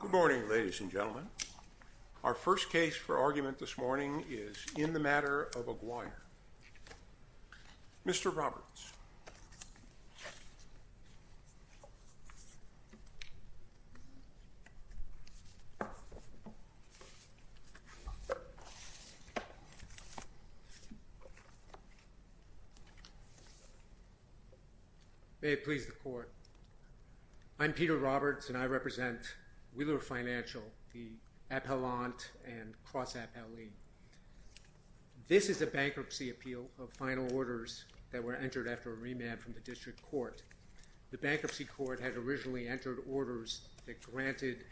Good morning, ladies and gentlemen. Our first case for argument this morning is in the matter of a guire. Mr. Roberts. May it please the Court. I'm Peter Roberts, and I represent Wheeler Financial, the appellant and cross-appellee. This is a bankruptcy appeal of final orders that were entered after a remand from the District Court. The Bankruptcy Court had originally entered orders that granted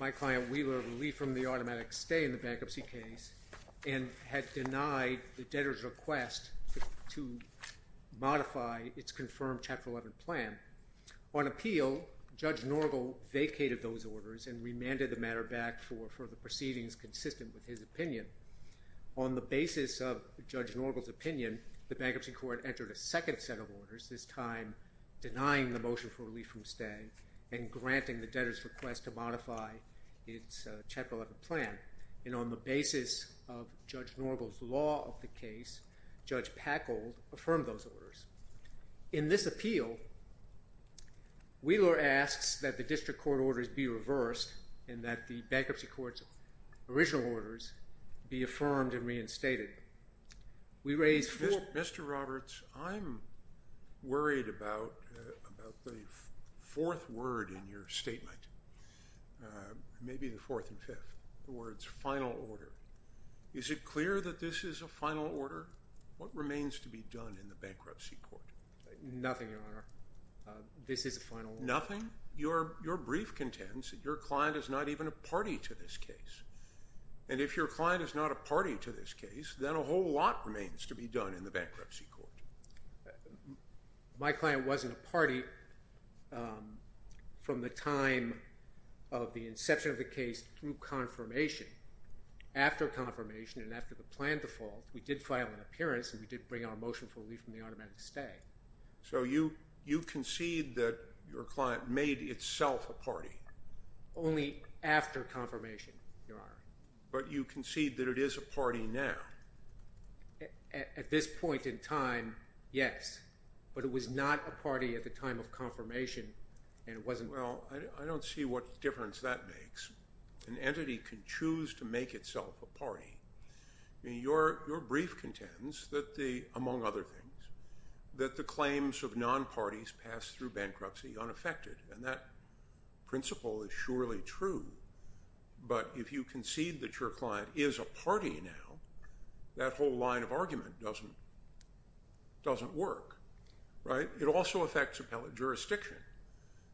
my client Wheeler relief from the automatic stay in the bankruptcy case and had denied the debtor's request to modify its confirmed Chapter 11 plan. On appeal, Judge Norgal vacated those orders and remanded the matter back for further proceedings consistent with his opinion. On the basis of Judge Norgal's opinion, the Bankruptcy Court entered a second set of orders, this time denying the motion for relief from stay and granting the debtor's request to modify its Chapter 11 plan. And on the basis of Judge Norgal's law of the case, Judge Packold affirmed those orders. In this appeal, Wheeler asks that the District Court orders be reversed and that the Bankruptcy Court's original orders be affirmed and reinstated. Mr. Roberts, I'm worried about the fourth word in your statement, maybe the fourth and fifth, the words final order. Is it clear that this is a final order? What remains to be done in the Bankruptcy Court? Nothing, Your Honor. This is a final order. Nothing? Your brief contends that your client is not even a party to this case. And if your client is not a party to this case, then a whole lot remains to be done in the Bankruptcy Court. My client wasn't a party from the time of the inception of the case through confirmation. After confirmation and after the plan default, we did file an appearance, and we did bring our motion for relief from the automatic stay. So you concede that your client made itself a party? Only after confirmation, Your Honor. But you concede that it is a party now? At this point in time, yes. But it was not a party at the time of confirmation, and it wasn't – Well, I don't see what difference that makes. An entity can choose to make itself a party. Your brief contends that the – among other things – that the claims of non-parties passed through bankruptcy unaffected, and that principle is surely true. But if you concede that your client is a party now, that whole line of argument doesn't work, right? It also affects appellate jurisdiction.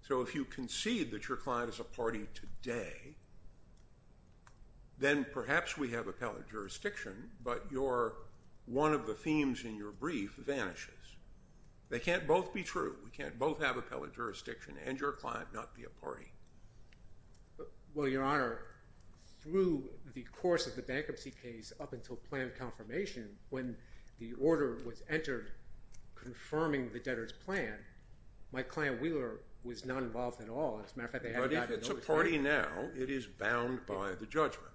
So if you concede that your client is a party today, then perhaps we have appellate jurisdiction, but your – one of the themes in your brief vanishes. They can't both be true. We can't both have appellate jurisdiction and your client not be a party. Well, Your Honor, through the course of the bankruptcy case up until plan confirmation, when the order was entered confirming the debtor's plan, my client Wheeler was not involved at all. As a matter of fact, they had – But if it's a party now, it is bound by the judgment.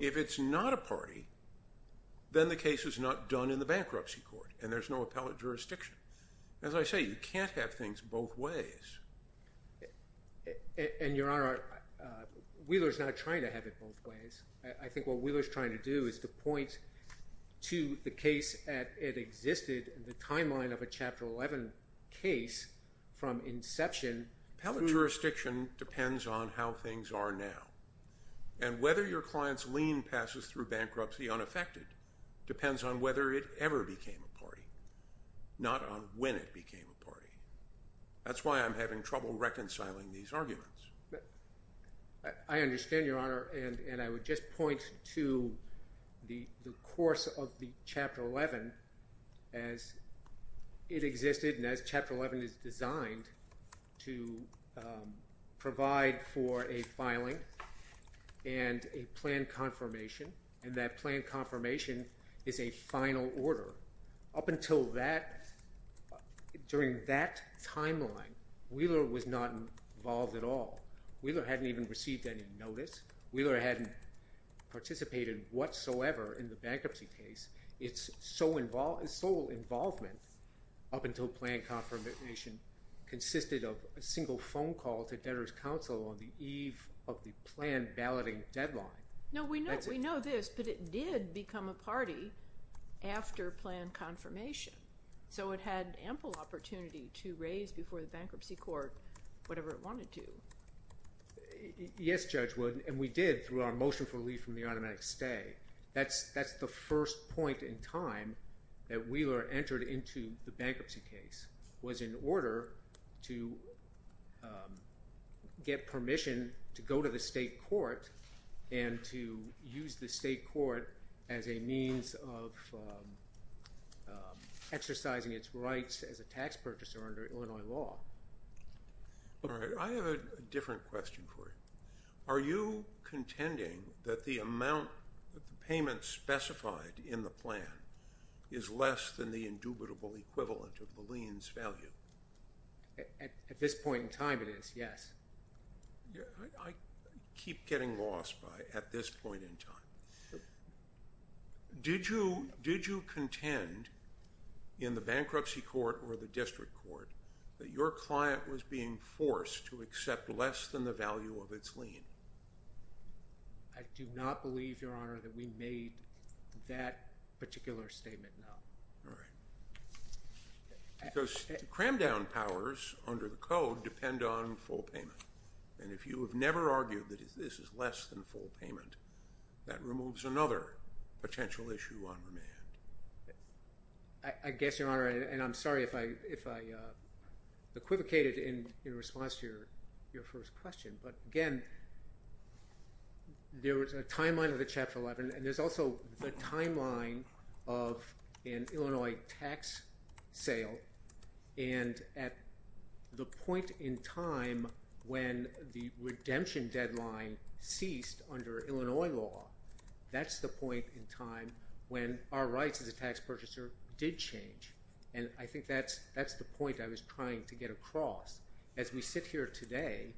If it's not a party, then the case is not done in the bankruptcy court, and there's no appellate jurisdiction. As I say, you can't have things both ways. And, Your Honor, Wheeler's not trying to have it both ways. I think what Wheeler's trying to do is to point to the case at – it existed in the timeline of a Chapter 11 case from inception. Appellate jurisdiction depends on how things are now. And whether your client's lien passes through bankruptcy unaffected depends on whether it ever became a party, not on when it became a party. That's why I'm having trouble reconciling these arguments. I understand, Your Honor, and I would just point to the course of the Chapter 11 as it existed, and as Chapter 11 is designed to provide for a filing and a plan confirmation, and that plan confirmation is a final order. Up until that – during that timeline, Wheeler was not involved at all. Wheeler hadn't even received any notice. Wheeler hadn't participated whatsoever in the bankruptcy case. Its sole involvement up until plan confirmation consisted of a single phone call to debtors' counsel on the eve of the planned balloting deadline. No, we know this, but it did become a party after plan confirmation. So it had ample opportunity to raise before the bankruptcy court whatever it wanted to. Yes, Judge Wood, and we did through our motion for relief from the automatic stay. That's the first point in time that Wheeler entered into the bankruptcy case was in order to get permission to go to the state court and to use the state court as a means of exercising its rights as a tax purchaser under Illinois law. All right, I have a different question for you. Are you contending that the amount – that the payment specified in the plan is less than the indubitable equivalent of the lien's value? At this point in time, it is, yes. I keep getting lost by at this point in time. Did you contend in the bankruptcy court or the district court that your client was being forced to accept less than the value of its lien? I do not believe, Your Honor, that we made that particular statement, no. Because cram down powers under the code depend on full payment, and if you have never argued that this is less than full payment, that removes another potential issue on remand. I guess, Your Honor, and I'm sorry if I equivocated in response to your first question, but again, there was a timeline of the Chapter 11, and there's also the timeline of an Illinois tax sale, and at the point in time when the redemption deadline ceased under Illinois law, that's the point in time when our rights as a tax purchaser did change, and I think that's the point I was trying to get across. As we sit here today,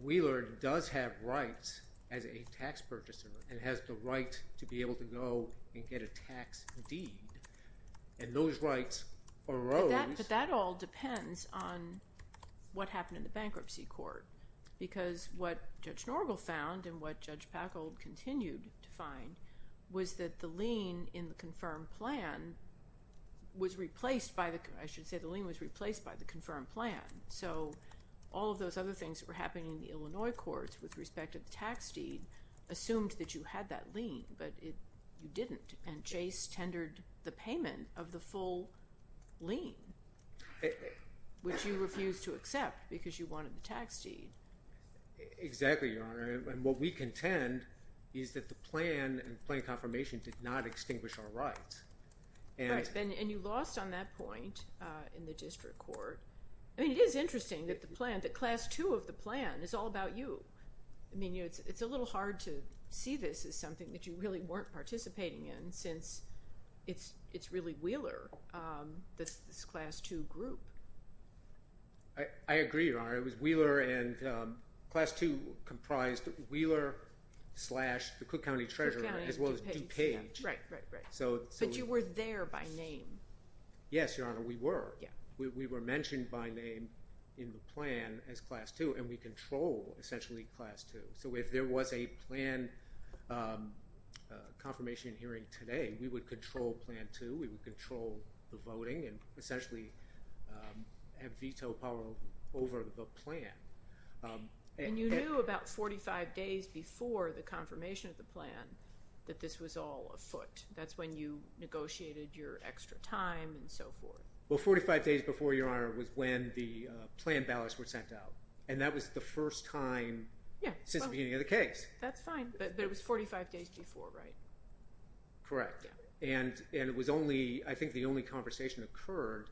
Wheeler does have rights as a tax purchaser and has the right to be able to go and get a tax deed, and those rights arose. But that all depends on what happened in the bankruptcy court, because what Judge Norgal found and what Judge Packold continued to find was that the lien in the confirmed plan was replaced by the, I should say the lien was replaced by the confirmed plan. So all of those other things that were happening in the Illinois courts with respect to the tax deed assumed that you had that lien, but you didn't, and Chase tendered the payment of the full lien, which you refused to accept because you wanted the tax deed. Exactly, Your Honor, and what we contend is that the plan and plan confirmation did not extinguish our rights. Right, and you lost on that point in the district court. I mean, it is interesting that the plan, that Class II of the plan is all about you. I mean, it's a little hard to see this as something that you really weren't participating in since it's really Wheeler that's this Class II group. I agree, Your Honor. It was Wheeler and Class II comprised Wheeler slash the Cook County Treasurer as well as DuPage. Right, right, right, but you were there by name. Yes, Your Honor, we were. We were mentioned by name in the plan as Class II and we control essentially Class II. So if there was a plan confirmation hearing today, we would control Plan II, we would control the voting and essentially have veto power over the plan. And you knew about 45 days before the confirmation of the plan that this was all afoot. That's when you negotiated your extra time and so forth. Well, 45 days before, Your Honor, was when the plan ballots were sent out and that was the first time since the beginning of the case. That's fine, but it was 45 days before, right? Correct, and it was only, I think the only conversation occurred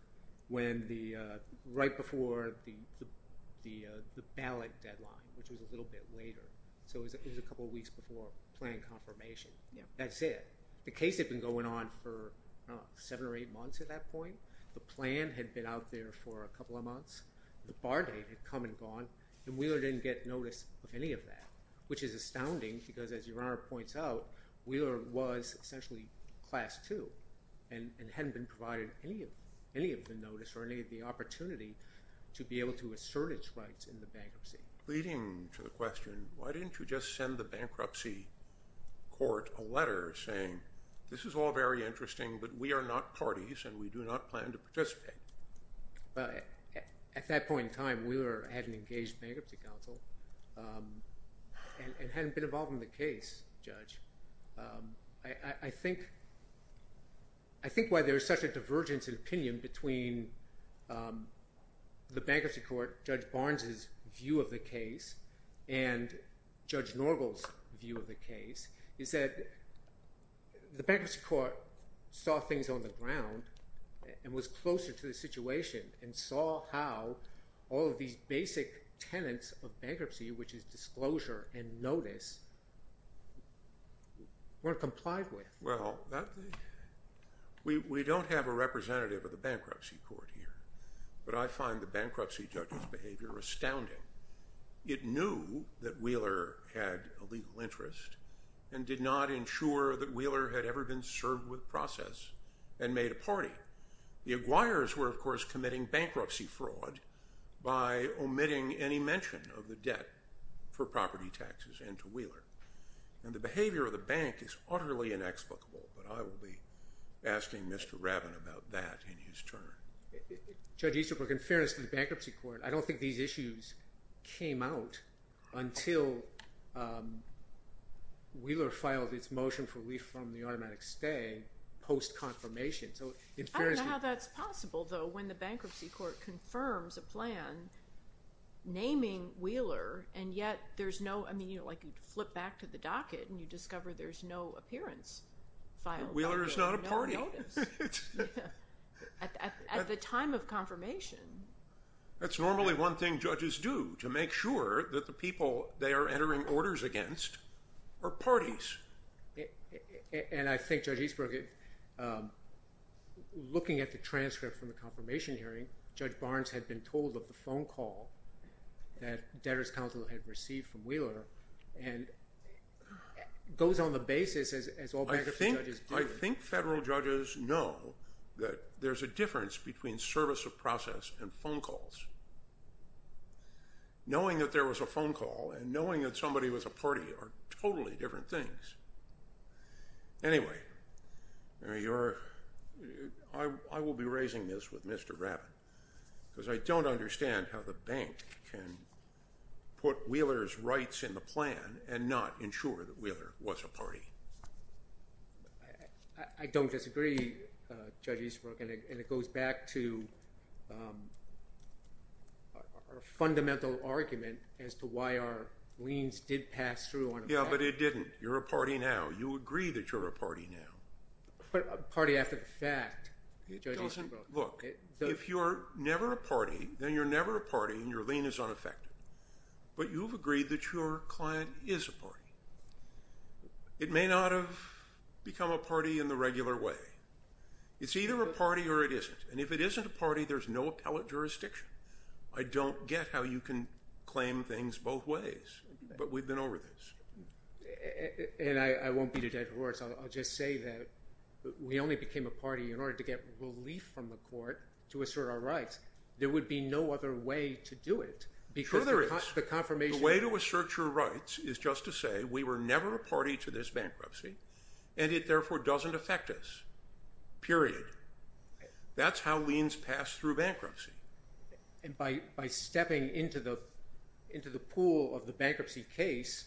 right before the ballot deadline, which was a little bit later. So it was a couple weeks before plan confirmation. That's it. The case had been going on for seven or eight months at that point. The plan had been out there for a couple of months. The bar date had come and gone and Wheeler didn't get notice of any of that, which is astounding because as Your Honor points out, Wheeler was essentially Class II and hadn't been provided any of the notice or any of the opportunity to be able to assert its rights in the bankruptcy. Leading to the question, why didn't you just send the bankruptcy court a letter saying, this is all very interesting, but we are not parties and we do not plan to participate? Well, at that point in time, Wheeler had an engaged bankruptcy counsel and hadn't been involved in the case, Judge. I think why there is such a divergence in opinion between the bankruptcy court, Judge Barnes's view of the case and Judge Norgal's view of the case is that the bankruptcy court saw things on the ground and was closer to the situation and saw how all of these basic tenets of bankruptcy, which is disclosure and notice, weren't complied with. Well, we don't have a representative of the bankruptcy court here, but I find the bankruptcy judge's behavior astounding. It knew that Wheeler had a legal interest and did not ensure that Wheeler had ever been served with process and made a party. The Aguirres were, of course, committing bankruptcy fraud by omitting any mention of the debt for property taxes into Wheeler. And the behavior of the bank is utterly inexplicable, but I will be asking Mr. Rabin about that in his turn. Judge Easterbrook, in fairness to the bankruptcy court, I don't think these issues came out until Wheeler filed its motion for relief from the automatic stay post-confirmation. I don't know how that's possible, though, when the bankruptcy court confirms a plan naming Wheeler and yet there's no – I mean, like you flip back to the docket and you discover there's no appearance filed. Wheeler is not a party. At the time of confirmation. That's normally one thing judges do, to make sure that the people they are entering orders against are parties. And I think, Judge Easterbrook, looking at the transcript from the confirmation hearing, Judge Barnes had been told of the phone call that debtors counsel had received from Wheeler and goes on the basis as all bankruptcy judges do. I think federal judges know that there's a difference between service of process and phone calls. Knowing that there was a phone call and knowing that somebody was a party are totally different things. Anyway, I will be raising this with Mr. Rabin because I don't understand how the bank can put Wheeler's rights in the plan and not ensure that Wheeler was a party. I don't disagree, Judge Easterbrook, and it goes back to our fundamental argument as to why our liens did pass through. Yeah, but it didn't. You're a party now. You agree that you're a party now. But a party after the fact, Judge Easterbrook. Look, if you're never a party, then you're never a party and your lien is unaffected. But you've agreed that your client is a party. It may not have become a party in the regular way. It's either a party or it isn't, and if it isn't a party, there's no appellate jurisdiction. I don't get how you can claim things both ways, but we've been over this. And I won't beat a dead horse. I'll just say that we only became a party in order to get relief from the court to assert our rights. There would be no other way to do it. Sure there is. The way to assert your rights is just to say we were never a party to this bankruptcy, and it therefore doesn't affect us, period. That's how liens pass through bankruptcy. And by stepping into the pool of the bankruptcy case,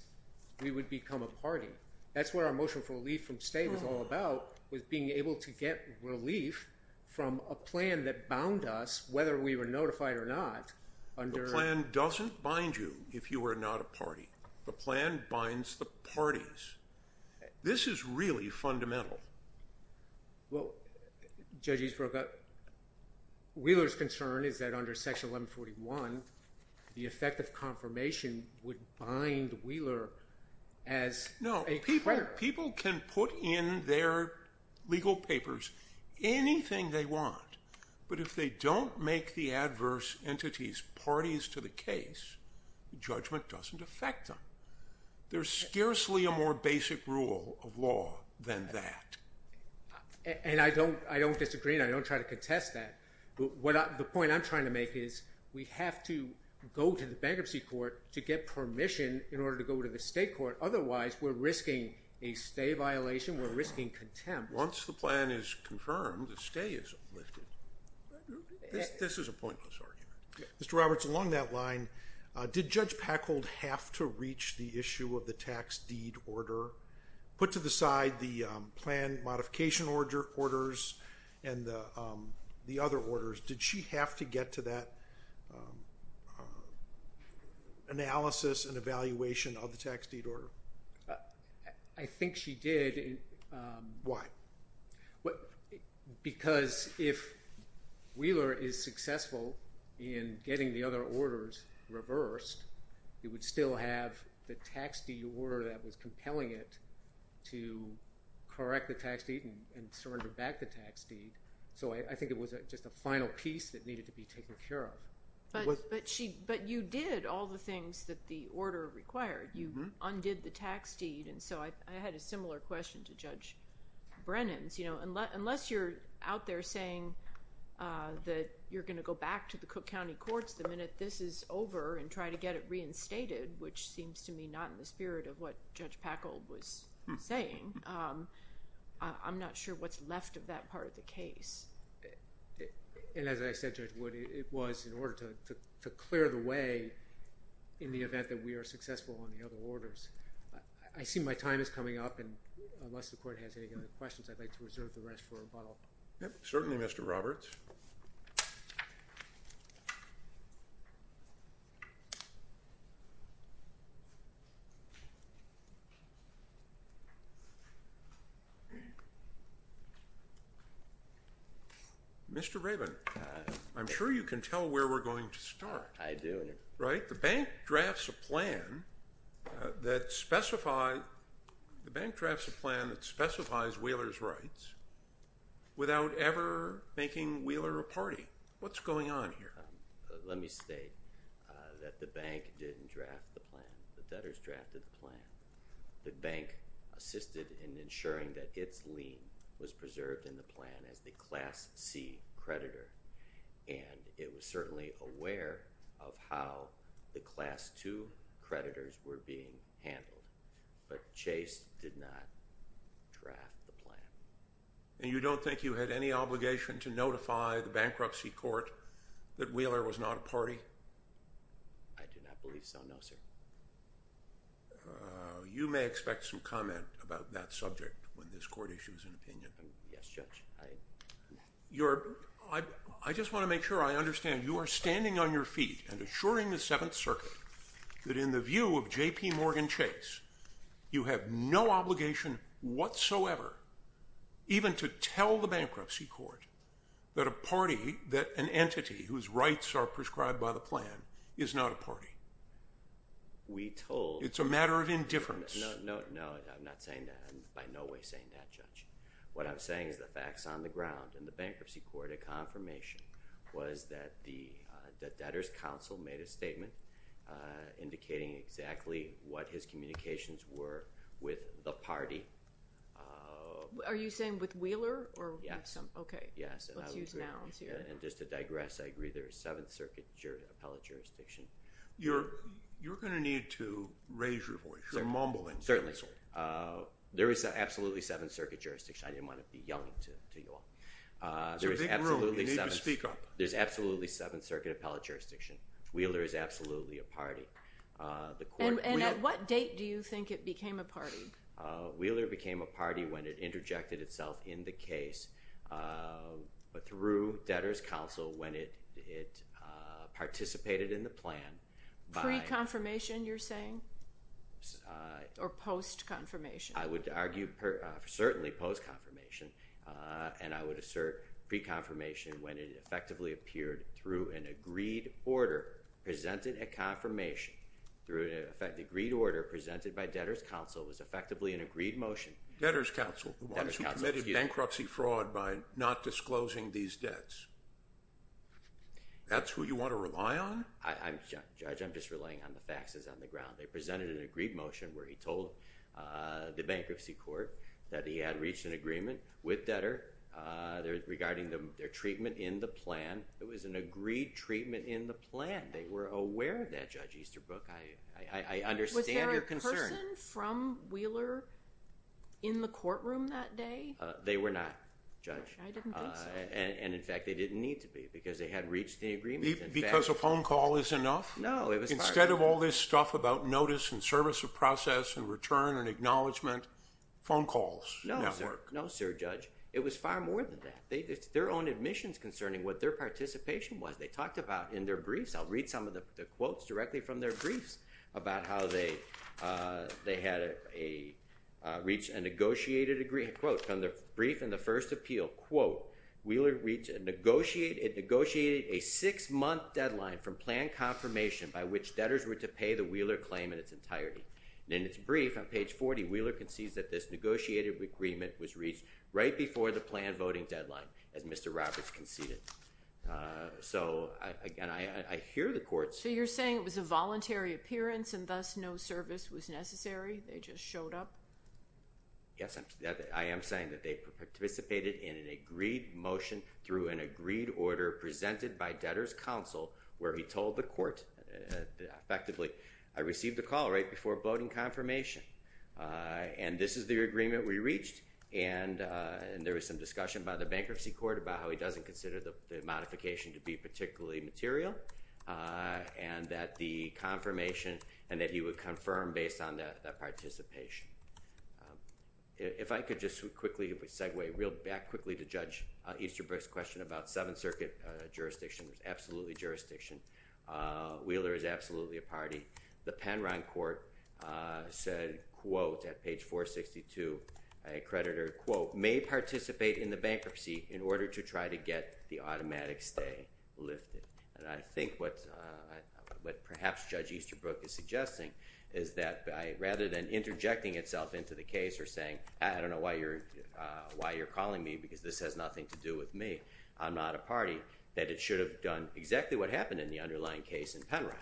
we would become a party. That's what our motion for relief from stay was all about, was being able to get relief from a plan that bound us, whether we were notified or not. The plan doesn't bind you if you are not a party. The plan binds the parties. This is really fundamental. Well, Judge Eastbrook, Wheeler's concern is that under Section 1141, the effect of confirmation would bind Wheeler as a creditor. No, people can put in their legal papers anything they want. But if they don't make the adverse entities parties to the case, judgment doesn't affect them. There's scarcely a more basic rule of law than that. And I don't disagree, and I don't try to contest that. But the point I'm trying to make is we have to go to the bankruptcy court to get permission in order to go to the state court. Otherwise, we're risking a stay violation. We're risking contempt. Once the plan is confirmed, the stay is lifted. This is a pointless argument. Mr. Roberts, along that line, did Judge Packhold have to reach the issue of the tax deed order, put to the side the plan modification orders and the other orders? Did she have to get to that analysis and evaluation of the tax deed order? I think she did. Why? Because if Wheeler is successful in getting the other orders reversed, it would still have the tax deed order that was compelling it to correct the tax deed and surrender back the tax deed. So I think it was just a final piece that needed to be taken care of. But you did all the things that the order required. You undid the tax deed. And so I had a similar question to Judge Brennan's. Unless you're out there saying that you're going to go back to the Cook County Courts the minute this is over and try to get it reinstated, which seems to me not in the spirit of what Judge Packhold was saying, I'm not sure what's left of that part of the case. And as I said, Judge Wood, it was in order to clear the way in the event that we are successful on the other orders. I see my time is coming up. And unless the Court has any other questions, I'd like to reserve the rest for a bottle. Certainly, Mr. Roberts. Mr. Raven, I'm sure you can tell where we're going to start. I do. Right? The bank drafts a plan that specifies Wheeler's rights without ever making Wheeler a party. What's going on here? Let me state that the bank didn't draft the plan. The debtors drafted the plan. The bank assisted in ensuring that its lien was preserved in the plan as the Class C creditor. And it was certainly aware of how the Class II creditors were being handled. But Chase did not draft the plan. And you don't think you had any obligation to notify the bankruptcy court that Wheeler was not a party? I do not believe so, no, sir. You may expect some comment about that subject when this court issues an opinion. Yes, Judge. I just want to make sure I understand. You are standing on your feet and assuring the Seventh Circuit that in the view of J.P. Morgan Chase, you have no obligation whatsoever even to tell the bankruptcy court that a party, that an entity whose rights are prescribed by the plan, is not a party. We told you. It's a matter of indifference. No, I'm not saying that. I'm by no way saying that, Judge. What I'm saying is the facts on the ground. In the bankruptcy court, a confirmation was that the debtor's counsel made a statement indicating exactly what his communications were with the party. Are you saying with Wheeler? Yes. Okay. Let's use now. And just to digress, I agree there is Seventh Circuit appellate jurisdiction. You're going to need to raise your voice. You're mumbling. Certainly. There is absolutely Seventh Circuit jurisdiction. I didn't want to be yelling to you all. It's a big world. You need to speak up. There's absolutely Seventh Circuit appellate jurisdiction. Wheeler is absolutely a party. And at what date do you think it became a party? Wheeler became a party when it interjected itself in the case through debtor's counsel when it participated in the plan. Pre-confirmation, you're saying? Or post-confirmation? I would argue certainly post-confirmation. And I would assert pre-confirmation when it effectively appeared through an agreed order, presented a confirmation through an agreed order presented by debtor's counsel, was effectively an agreed motion. Debtor's counsel. The ones who committed bankruptcy fraud by not disclosing these debts. That's who you want to rely on? Judge, I'm just relying on the facts on the ground. They presented an agreed motion where he told the bankruptcy court that he had reached an agreement with debtor regarding their treatment in the plan. It was an agreed treatment in the plan. They were aware of that, Judge Easterbrook. I understand your concern. Was there a person from Wheeler in the courtroom that day? They were not, Judge. I didn't think so. And, in fact, they didn't need to be because they had reached the agreement. Because a phone call is enough? No, it was part of it. Instead of all this stuff about notice and service of process and return and acknowledgement, phone calls? No, sir. No, sir, Judge. It was far more than that. It's their own admissions concerning what their participation was. They talked about in their briefs, I'll read some of the quotes directly from their briefs, about how they had reached a negotiated agreement. Quote, from their brief in the first appeal, quote, Wheeler negotiated a six-month deadline from plan confirmation by which debtors were to pay the Wheeler claim in its entirety. And in its brief, on page 40, Wheeler concedes that this negotiated agreement was reached right before the planned voting deadline, as Mr. Roberts conceded. So, again, I hear the courts. So you're saying it was a voluntary appearance and thus no service was necessary? They just showed up? Yes, I am saying that they participated in an agreed motion through an agreed order presented by debtors' counsel, where he told the court effectively, I received a call right before voting confirmation. And this is the agreement we reached. And there was some discussion by the bankruptcy court about how he doesn't consider the modification to be particularly material, and that the confirmation, and that he would confirm based on that participation. If I could just quickly segue real back quickly to Judge Easterbrook's question about Seventh Circuit jurisdiction. It was absolutely jurisdiction. Wheeler is absolutely a party. The Penron court said, quote, at page 462, a creditor, quote, may participate in the bankruptcy in order to try to get the automatic stay lifted. And I think what perhaps Judge Easterbrook is suggesting is that rather than interjecting itself into the case or saying, I don't know why you're calling me because this has nothing to do with me, I'm not a party, that it should have done exactly what happened in the underlying case in Penron.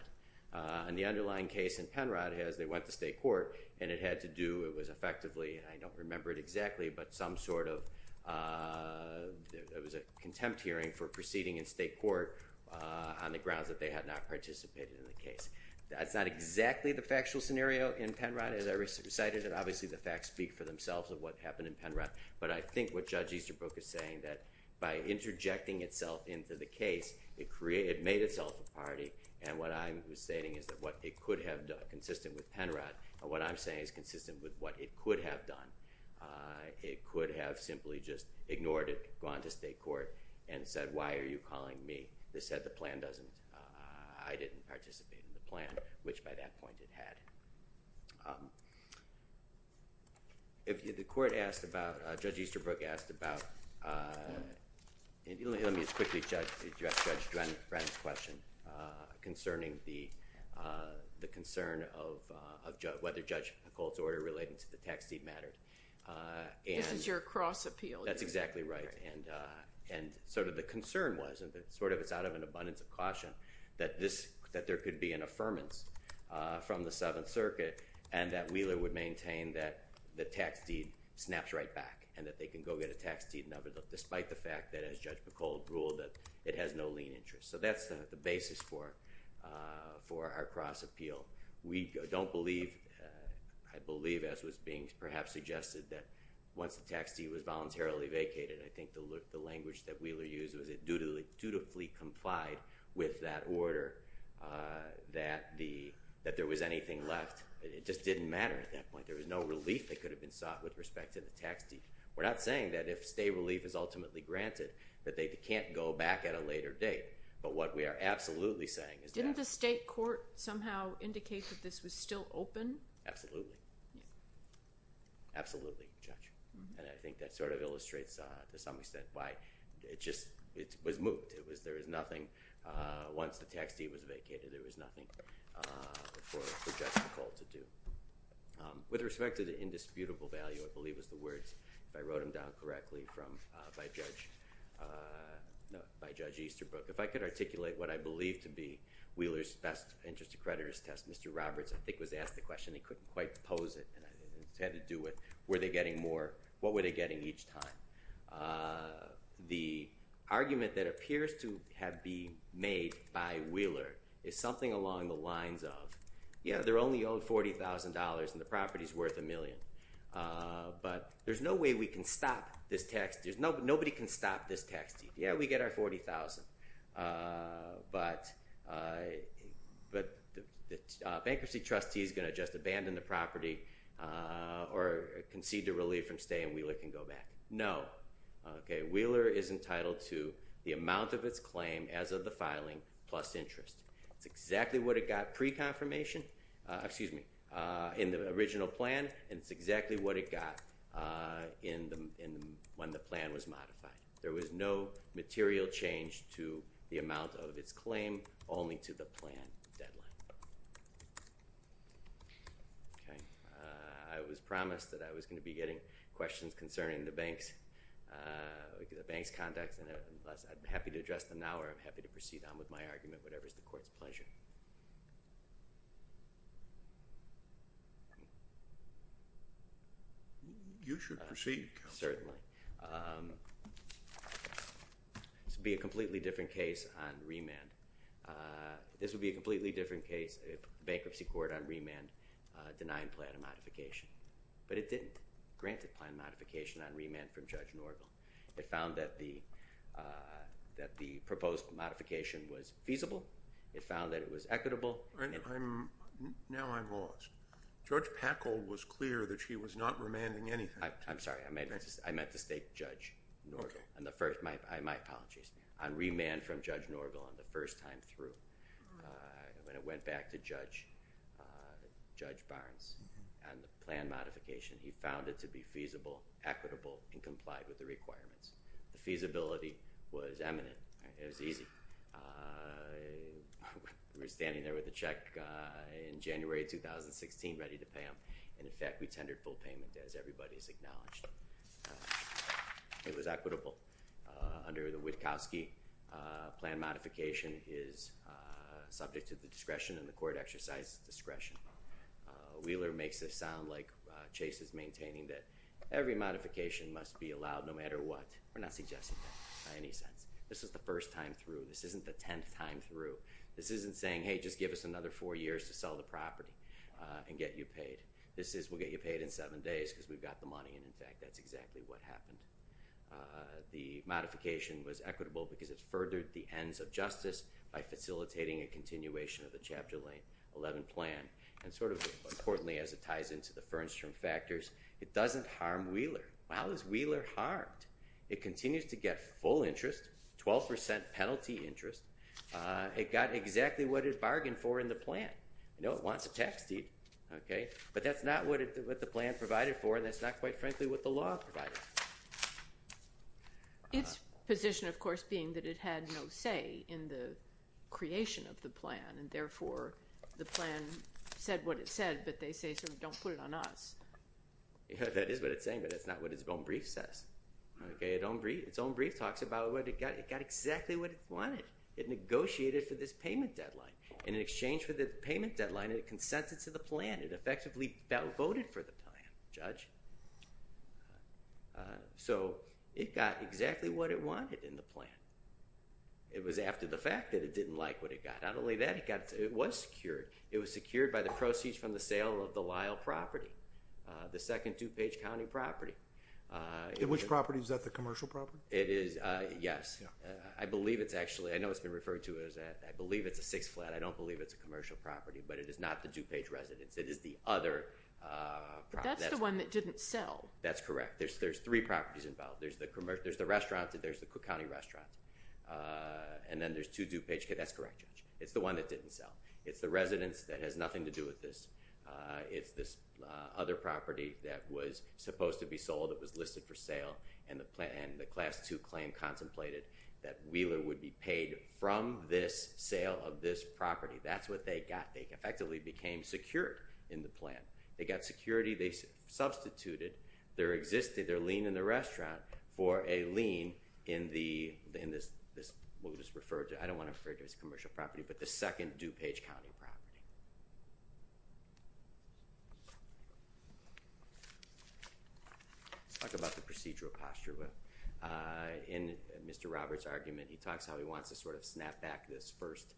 In the underlying case in Penron, they went to state court, and it had to do, it was effectively, and I don't remember it exactly, but some sort of, it was a contempt hearing for proceeding in state court on the grounds that they had not participated in the case. That's not exactly the factual scenario in Penron, as I recited, and obviously the facts speak for themselves of what happened in Penron. But I think what Judge Easterbrook is saying, that by interjecting itself into the case, it made itself a party. And what I'm stating is that what it could have done, consistent with Penron, what I'm saying is consistent with what it could have done. It could have simply just ignored it, gone to state court, and said, why are you calling me? They said the plan doesn't, I didn't participate in the plan, which by that point it had. The court asked about, Judge Easterbrook asked about, let me just quickly address Judge Drenn's question, concerning the concern of whether Judge Colt's order relating to the tax deed mattered. This is your cross appeal. That's exactly right. And sort of the concern was, and sort of it's out of an abundance of caution, that there could be an affirmance from the Seventh Circuit, and that Wheeler would maintain that the tax deed snaps right back, and that they can go get a tax deed, despite the fact that, as Judge McCold ruled, it has no lien interest. So that's the basis for our cross appeal. We don't believe, I believe, as was being perhaps suggested, that once the tax deed was voluntarily vacated, I think the language that Wheeler used was it dutifully complied with that order, that there was anything left. It just didn't matter at that point. There was no relief that could have been sought with respect to the tax deed. We're not saying that if stay relief is ultimately granted, that they can't go back at a later date. But what we are absolutely saying is that- Didn't the state court somehow indicate that this was still open? Absolutely. Absolutely, Judge. And I think that sort of illustrates, to some extent, why it just was moot. Once the tax deed was vacated, there was nothing for Judge McCold to do. With respect to the indisputable value, I believe it was the words, if I wrote them down correctly, by Judge Easterbrook, if I could articulate what I believe to be Wheeler's best interest accreditors test. Mr. Roberts, I think, was asked the question. He couldn't quite pose it, and it had to do with were they getting more? What were they getting each time? The argument that appears to have been made by Wheeler is something along the lines of, yeah, they're only owed $40,000, and the property is worth a million. But there's no way we can stop this tax deed. Nobody can stop this tax deed. Yeah, we get our $40,000, but the bankruptcy trustee is going to just abandon the property or concede to relief from stay, and Wheeler can go back. No. Okay, Wheeler is entitled to the amount of its claim as of the filing plus interest. It's exactly what it got pre-confirmation, excuse me, in the original plan, and it's exactly what it got when the plan was modified. There was no material change to the amount of its claim, only to the plan deadline. Okay. I was promised that I was going to be getting questions concerning the bank's contacts, and I'm happy to address them now or I'm happy to proceed on with my argument, whatever is the Court's pleasure. You should proceed, Counselor. Certainly. This would be a completely different case on remand. This would be a completely different case if the bankruptcy court on remand denied plan of modification, but it didn't grant the plan of modification on remand from Judge Norville. It found that the proposed modification was feasible. It found that it was equitable. Now I'm lost. Judge Packold was clear that she was not remanding anything. I'm sorry. I meant to state Judge Norville. My apologies. On remand from Judge Norville on the first time through, when it went back to Judge Barnes on the plan modification, he found it to be feasible, equitable, and complied with the requirements. The feasibility was eminent. It was easy. We were standing there with a check in January 2016 ready to pay him, and, in fact, we tendered full payment as everybody has acknowledged. It was equitable. Under the Witkowski, plan modification is subject to the discretion and the court exercises discretion. Wheeler makes it sound like Chase is maintaining that every modification must be allowed no matter what. We're not suggesting that in any sense. This is the first time through. This isn't the tenth time through. This isn't saying, hey, just give us another four years to sell the property and get you paid. This is we'll get you paid in seven days because we've got the money, and, in fact, that's exactly what happened. The modification was equitable because it furthered the ends of justice by facilitating a continuation of the Chapter 11 plan, and sort of importantly, as it ties into the Fernstrom factors, it doesn't harm Wheeler. How is Wheeler harmed? It continues to get full interest, 12% penalty interest. It got exactly what it bargained for in the plan. I know it wants a tax deed, but that's not what the plan provided for, and that's not, quite frankly, what the law provided. Its position, of course, being that it had no say in the creation of the plan, and therefore the plan said what it said, but they say sort of don't put it on us. That is what it's saying, but that's not what its own brief says. Its own brief talks about it got exactly what it wanted. It negotiated for this payment deadline. In exchange for the payment deadline, it consented to the plan. It effectively voted for the plan, Judge. So it got exactly what it wanted in the plan. It was after the fact that it didn't like what it got. Not only that, it was secured. It was secured by the proceeds from the sale of the Lyle property, the second DuPage County property. Which property? Is that the commercial property? It is, yes. I believe it's actually, I know it's been referred to as that. I believe it's a six flat. I don't believe it's a commercial property, but it is not the DuPage residence. It is the other property. But that's the one that didn't sell. That's correct. There's three properties involved. There's the restaurant and there's the Cook County restaurant, and then there's two DuPage. That's correct, Judge. It's the one that didn't sell. It's the residence that has nothing to do with this. It's this other property that was supposed to be sold. It was listed for sale, and the class two claim contemplated that Wheeler would be paid from this sale of this property. That's what they got. They effectively became secured in the plan. They got security. They substituted their existing, their lien in the restaurant for a lien in this, what was referred to, I don't want to refer to it as a commercial property, but the second DuPage County property. Let's talk about the procedural posture. In Mr. Roberts' argument, he talks how he wants to sort of snap back this first,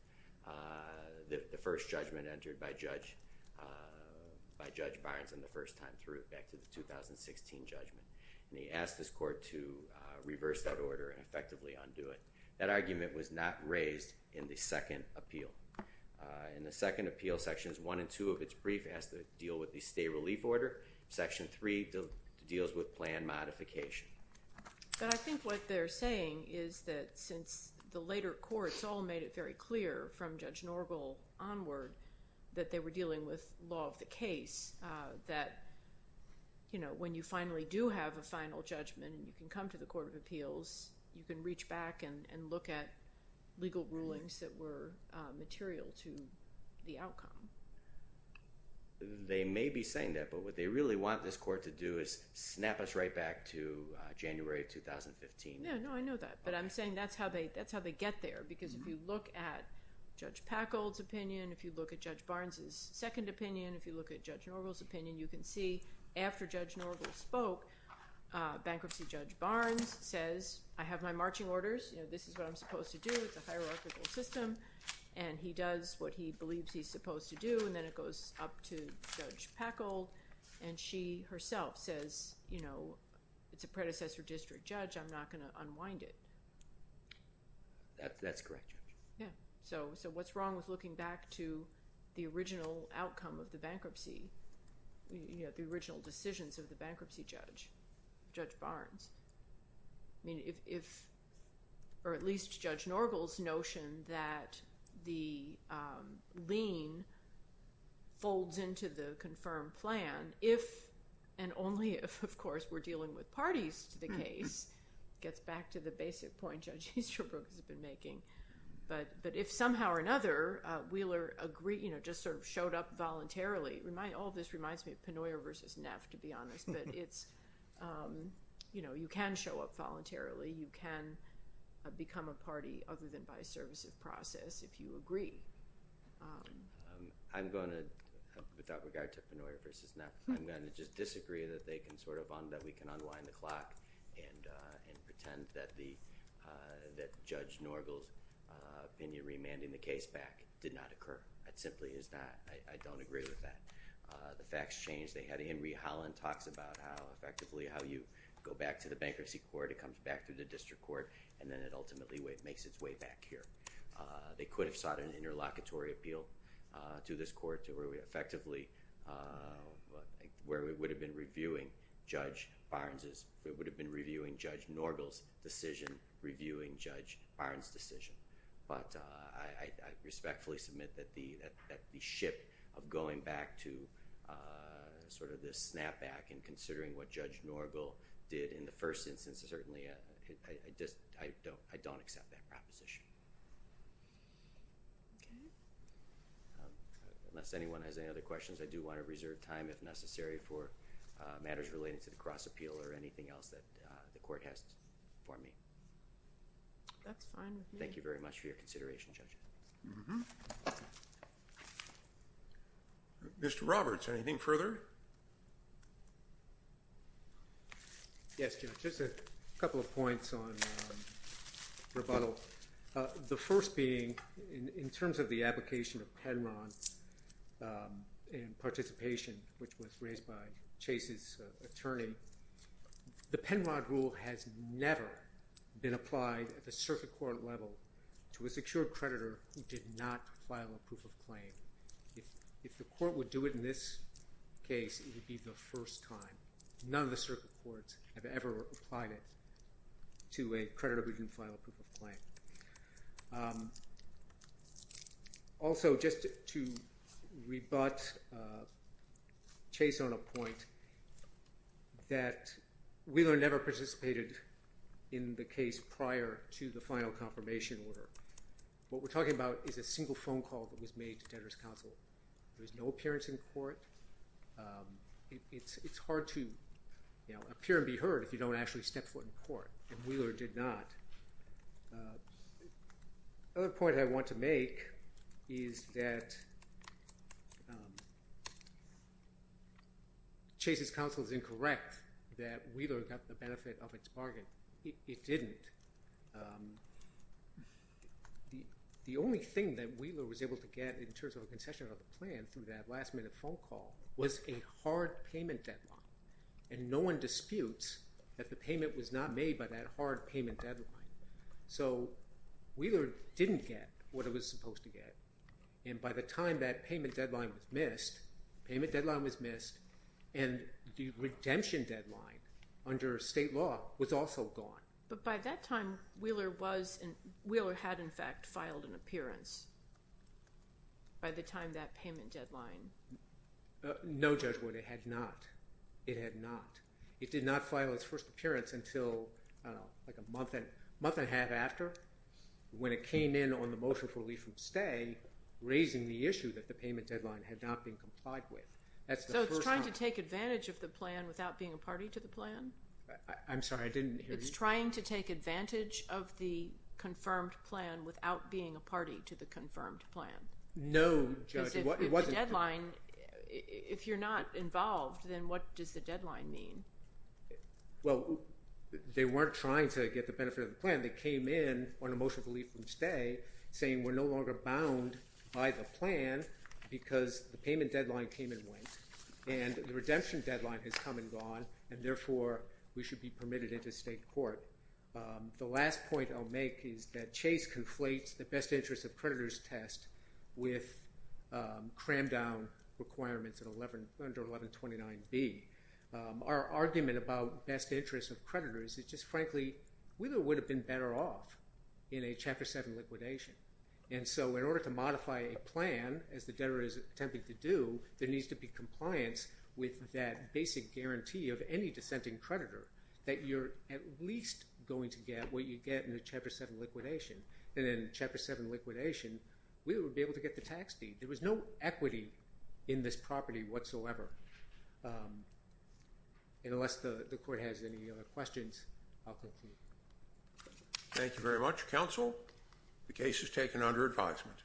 the first judgment entered by Judge Barnes on the first time through, back to the 2016 judgment. And he asked his court to reverse that order and effectively undo it. That argument was not raised in the second appeal. In the second appeal, sections one and two of its brief asked to deal with the state relief order. Section three deals with plan modification. But I think what they're saying is that since the later courts all made it very clear from Judge Norgal onward that they were dealing with law of the case, that, you know, when you finally do have a final judgment and you can come to the Court of Appeals, you can reach back and look at legal rulings that were material to the outcome. They may be saying that, but what they really want this court to do is snap us right back to January of 2015. Yeah, no, I know that. But I'm saying that's how they get there because if you look at Judge Packold's opinion, if you look at Judge Barnes' second opinion, if you look at Judge Norgal's opinion, you can see after Judge Norgal spoke, bankruptcy Judge Barnes says, I have my marching orders, you know, this is what I'm supposed to do. It's a hierarchical system, and he does what he believes he's supposed to do, and then it goes up to Judge Packold, and she herself says, you know, it's a predecessor district judge. I'm not going to unwind it. That's correct, Judge. Yeah. So what's wrong with looking back to the original outcome of the bankruptcy, you know, the original decisions of the bankruptcy judge, Judge Barnes? I mean, if or at least Judge Norgal's notion that the lien folds into the confirmed plan, if and only if, of course, we're dealing with parties to the case, gets back to the basic point Judge Easterbrook has been making. But if somehow or another Wheeler agreed, you know, just sort of showed up voluntarily, all this reminds me of Pennoyer v. Neff, to be honest, but it's, you know, you can show up voluntarily. You can become a party other than by service of process if you agree. I'm going to, without regard to Pennoyer v. Neff, I'm going to just disagree that we can unwind the clock and pretend that Judge Norgal's opinion remanding the case back did not occur. It simply is not. I don't agree with that. The facts change. They had Henry Holland talks about how effectively how you go back to the bankruptcy court, it comes back to the district court, and then it ultimately makes its way back here. They could have sought an interlocutory appeal to this court to where we effectively, where we would have been reviewing Judge Barnes's, we would have been reviewing Judge Norgal's decision, reviewing Judge Barnes's decision. But I respectfully submit that the ship of going back to sort of this snapback and considering what Judge Norgal did in the first instance, certainly I don't accept that proposition. Okay. Unless anyone has any other questions, I do want to reserve time if necessary for matters relating to the cross appeal or anything else that the court has for me. That's fine with me. Thank you very much for your consideration, Judge. Mr. Roberts, anything further? Yes, Judge. Just a couple of points on rebuttal. The first being in terms of the application of Penrod in participation, which was raised by Chase's attorney, the Penrod rule has never been applied at the circuit court level to a secured creditor who did not file a proof of claim. If the court would do it in this case, it would be the first time. None of the circuit courts have ever applied it to a creditor who didn't file a proof of claim. Also, just to rebut Chase on a point, that Wheeler never participated in the case prior to the final confirmation order. What we're talking about is a single phone call that was made to Tedra's counsel. There was no appearance in court. It's hard to appear and be heard if you don't actually step foot in court, and Wheeler did not. Another point I want to make is that Chase's counsel is incorrect that Wheeler got the benefit of its bargain. It didn't. The only thing that Wheeler was able to get in terms of a concession on the plan through that last-minute phone call was a hard payment deadline, and no one disputes that the payment was not made by that hard payment deadline. So Wheeler didn't get what it was supposed to get, and by the time that payment deadline was missed, and the redemption deadline under state law was also gone. But by that time, Wheeler had, in fact, filed an appearance by the time that payment deadline. No, Judge Wood, it had not. It had not. It did not file its first appearance until like a month and a half after, when it came in on the motion for relief from stay, raising the issue that the payment deadline had not been complied with. So it's trying to take advantage of the plan without being a party to the plan? I'm sorry, I didn't hear you. It's trying to take advantage of the confirmed plan without being a party to the confirmed plan? No, Judge. If the deadline, if you're not involved, then what does the deadline mean? Well, they weren't trying to get the benefit of the plan. They came in on a motion for relief from stay saying we're no longer bound by the plan because the payment deadline came and went, and the redemption deadline has come and gone, and therefore we should be permitted into state court. The last point I'll make is that Chase conflates the best interest of creditors test with crammed down requirements under 1129B. Our argument about best interest of creditors is just, frankly, we would have been better off in a Chapter 7 liquidation. And so in order to modify a plan, as the debtor is attempting to do, there needs to be compliance with that basic guarantee of any dissenting creditor, that you're at least going to get what you get in a Chapter 7 liquidation. And in a Chapter 7 liquidation, we would be able to get the tax deed. There was no equity in this property whatsoever. Unless the court has any other questions, I'll conclude. Thank you very much, counsel. The case is taken under advisement.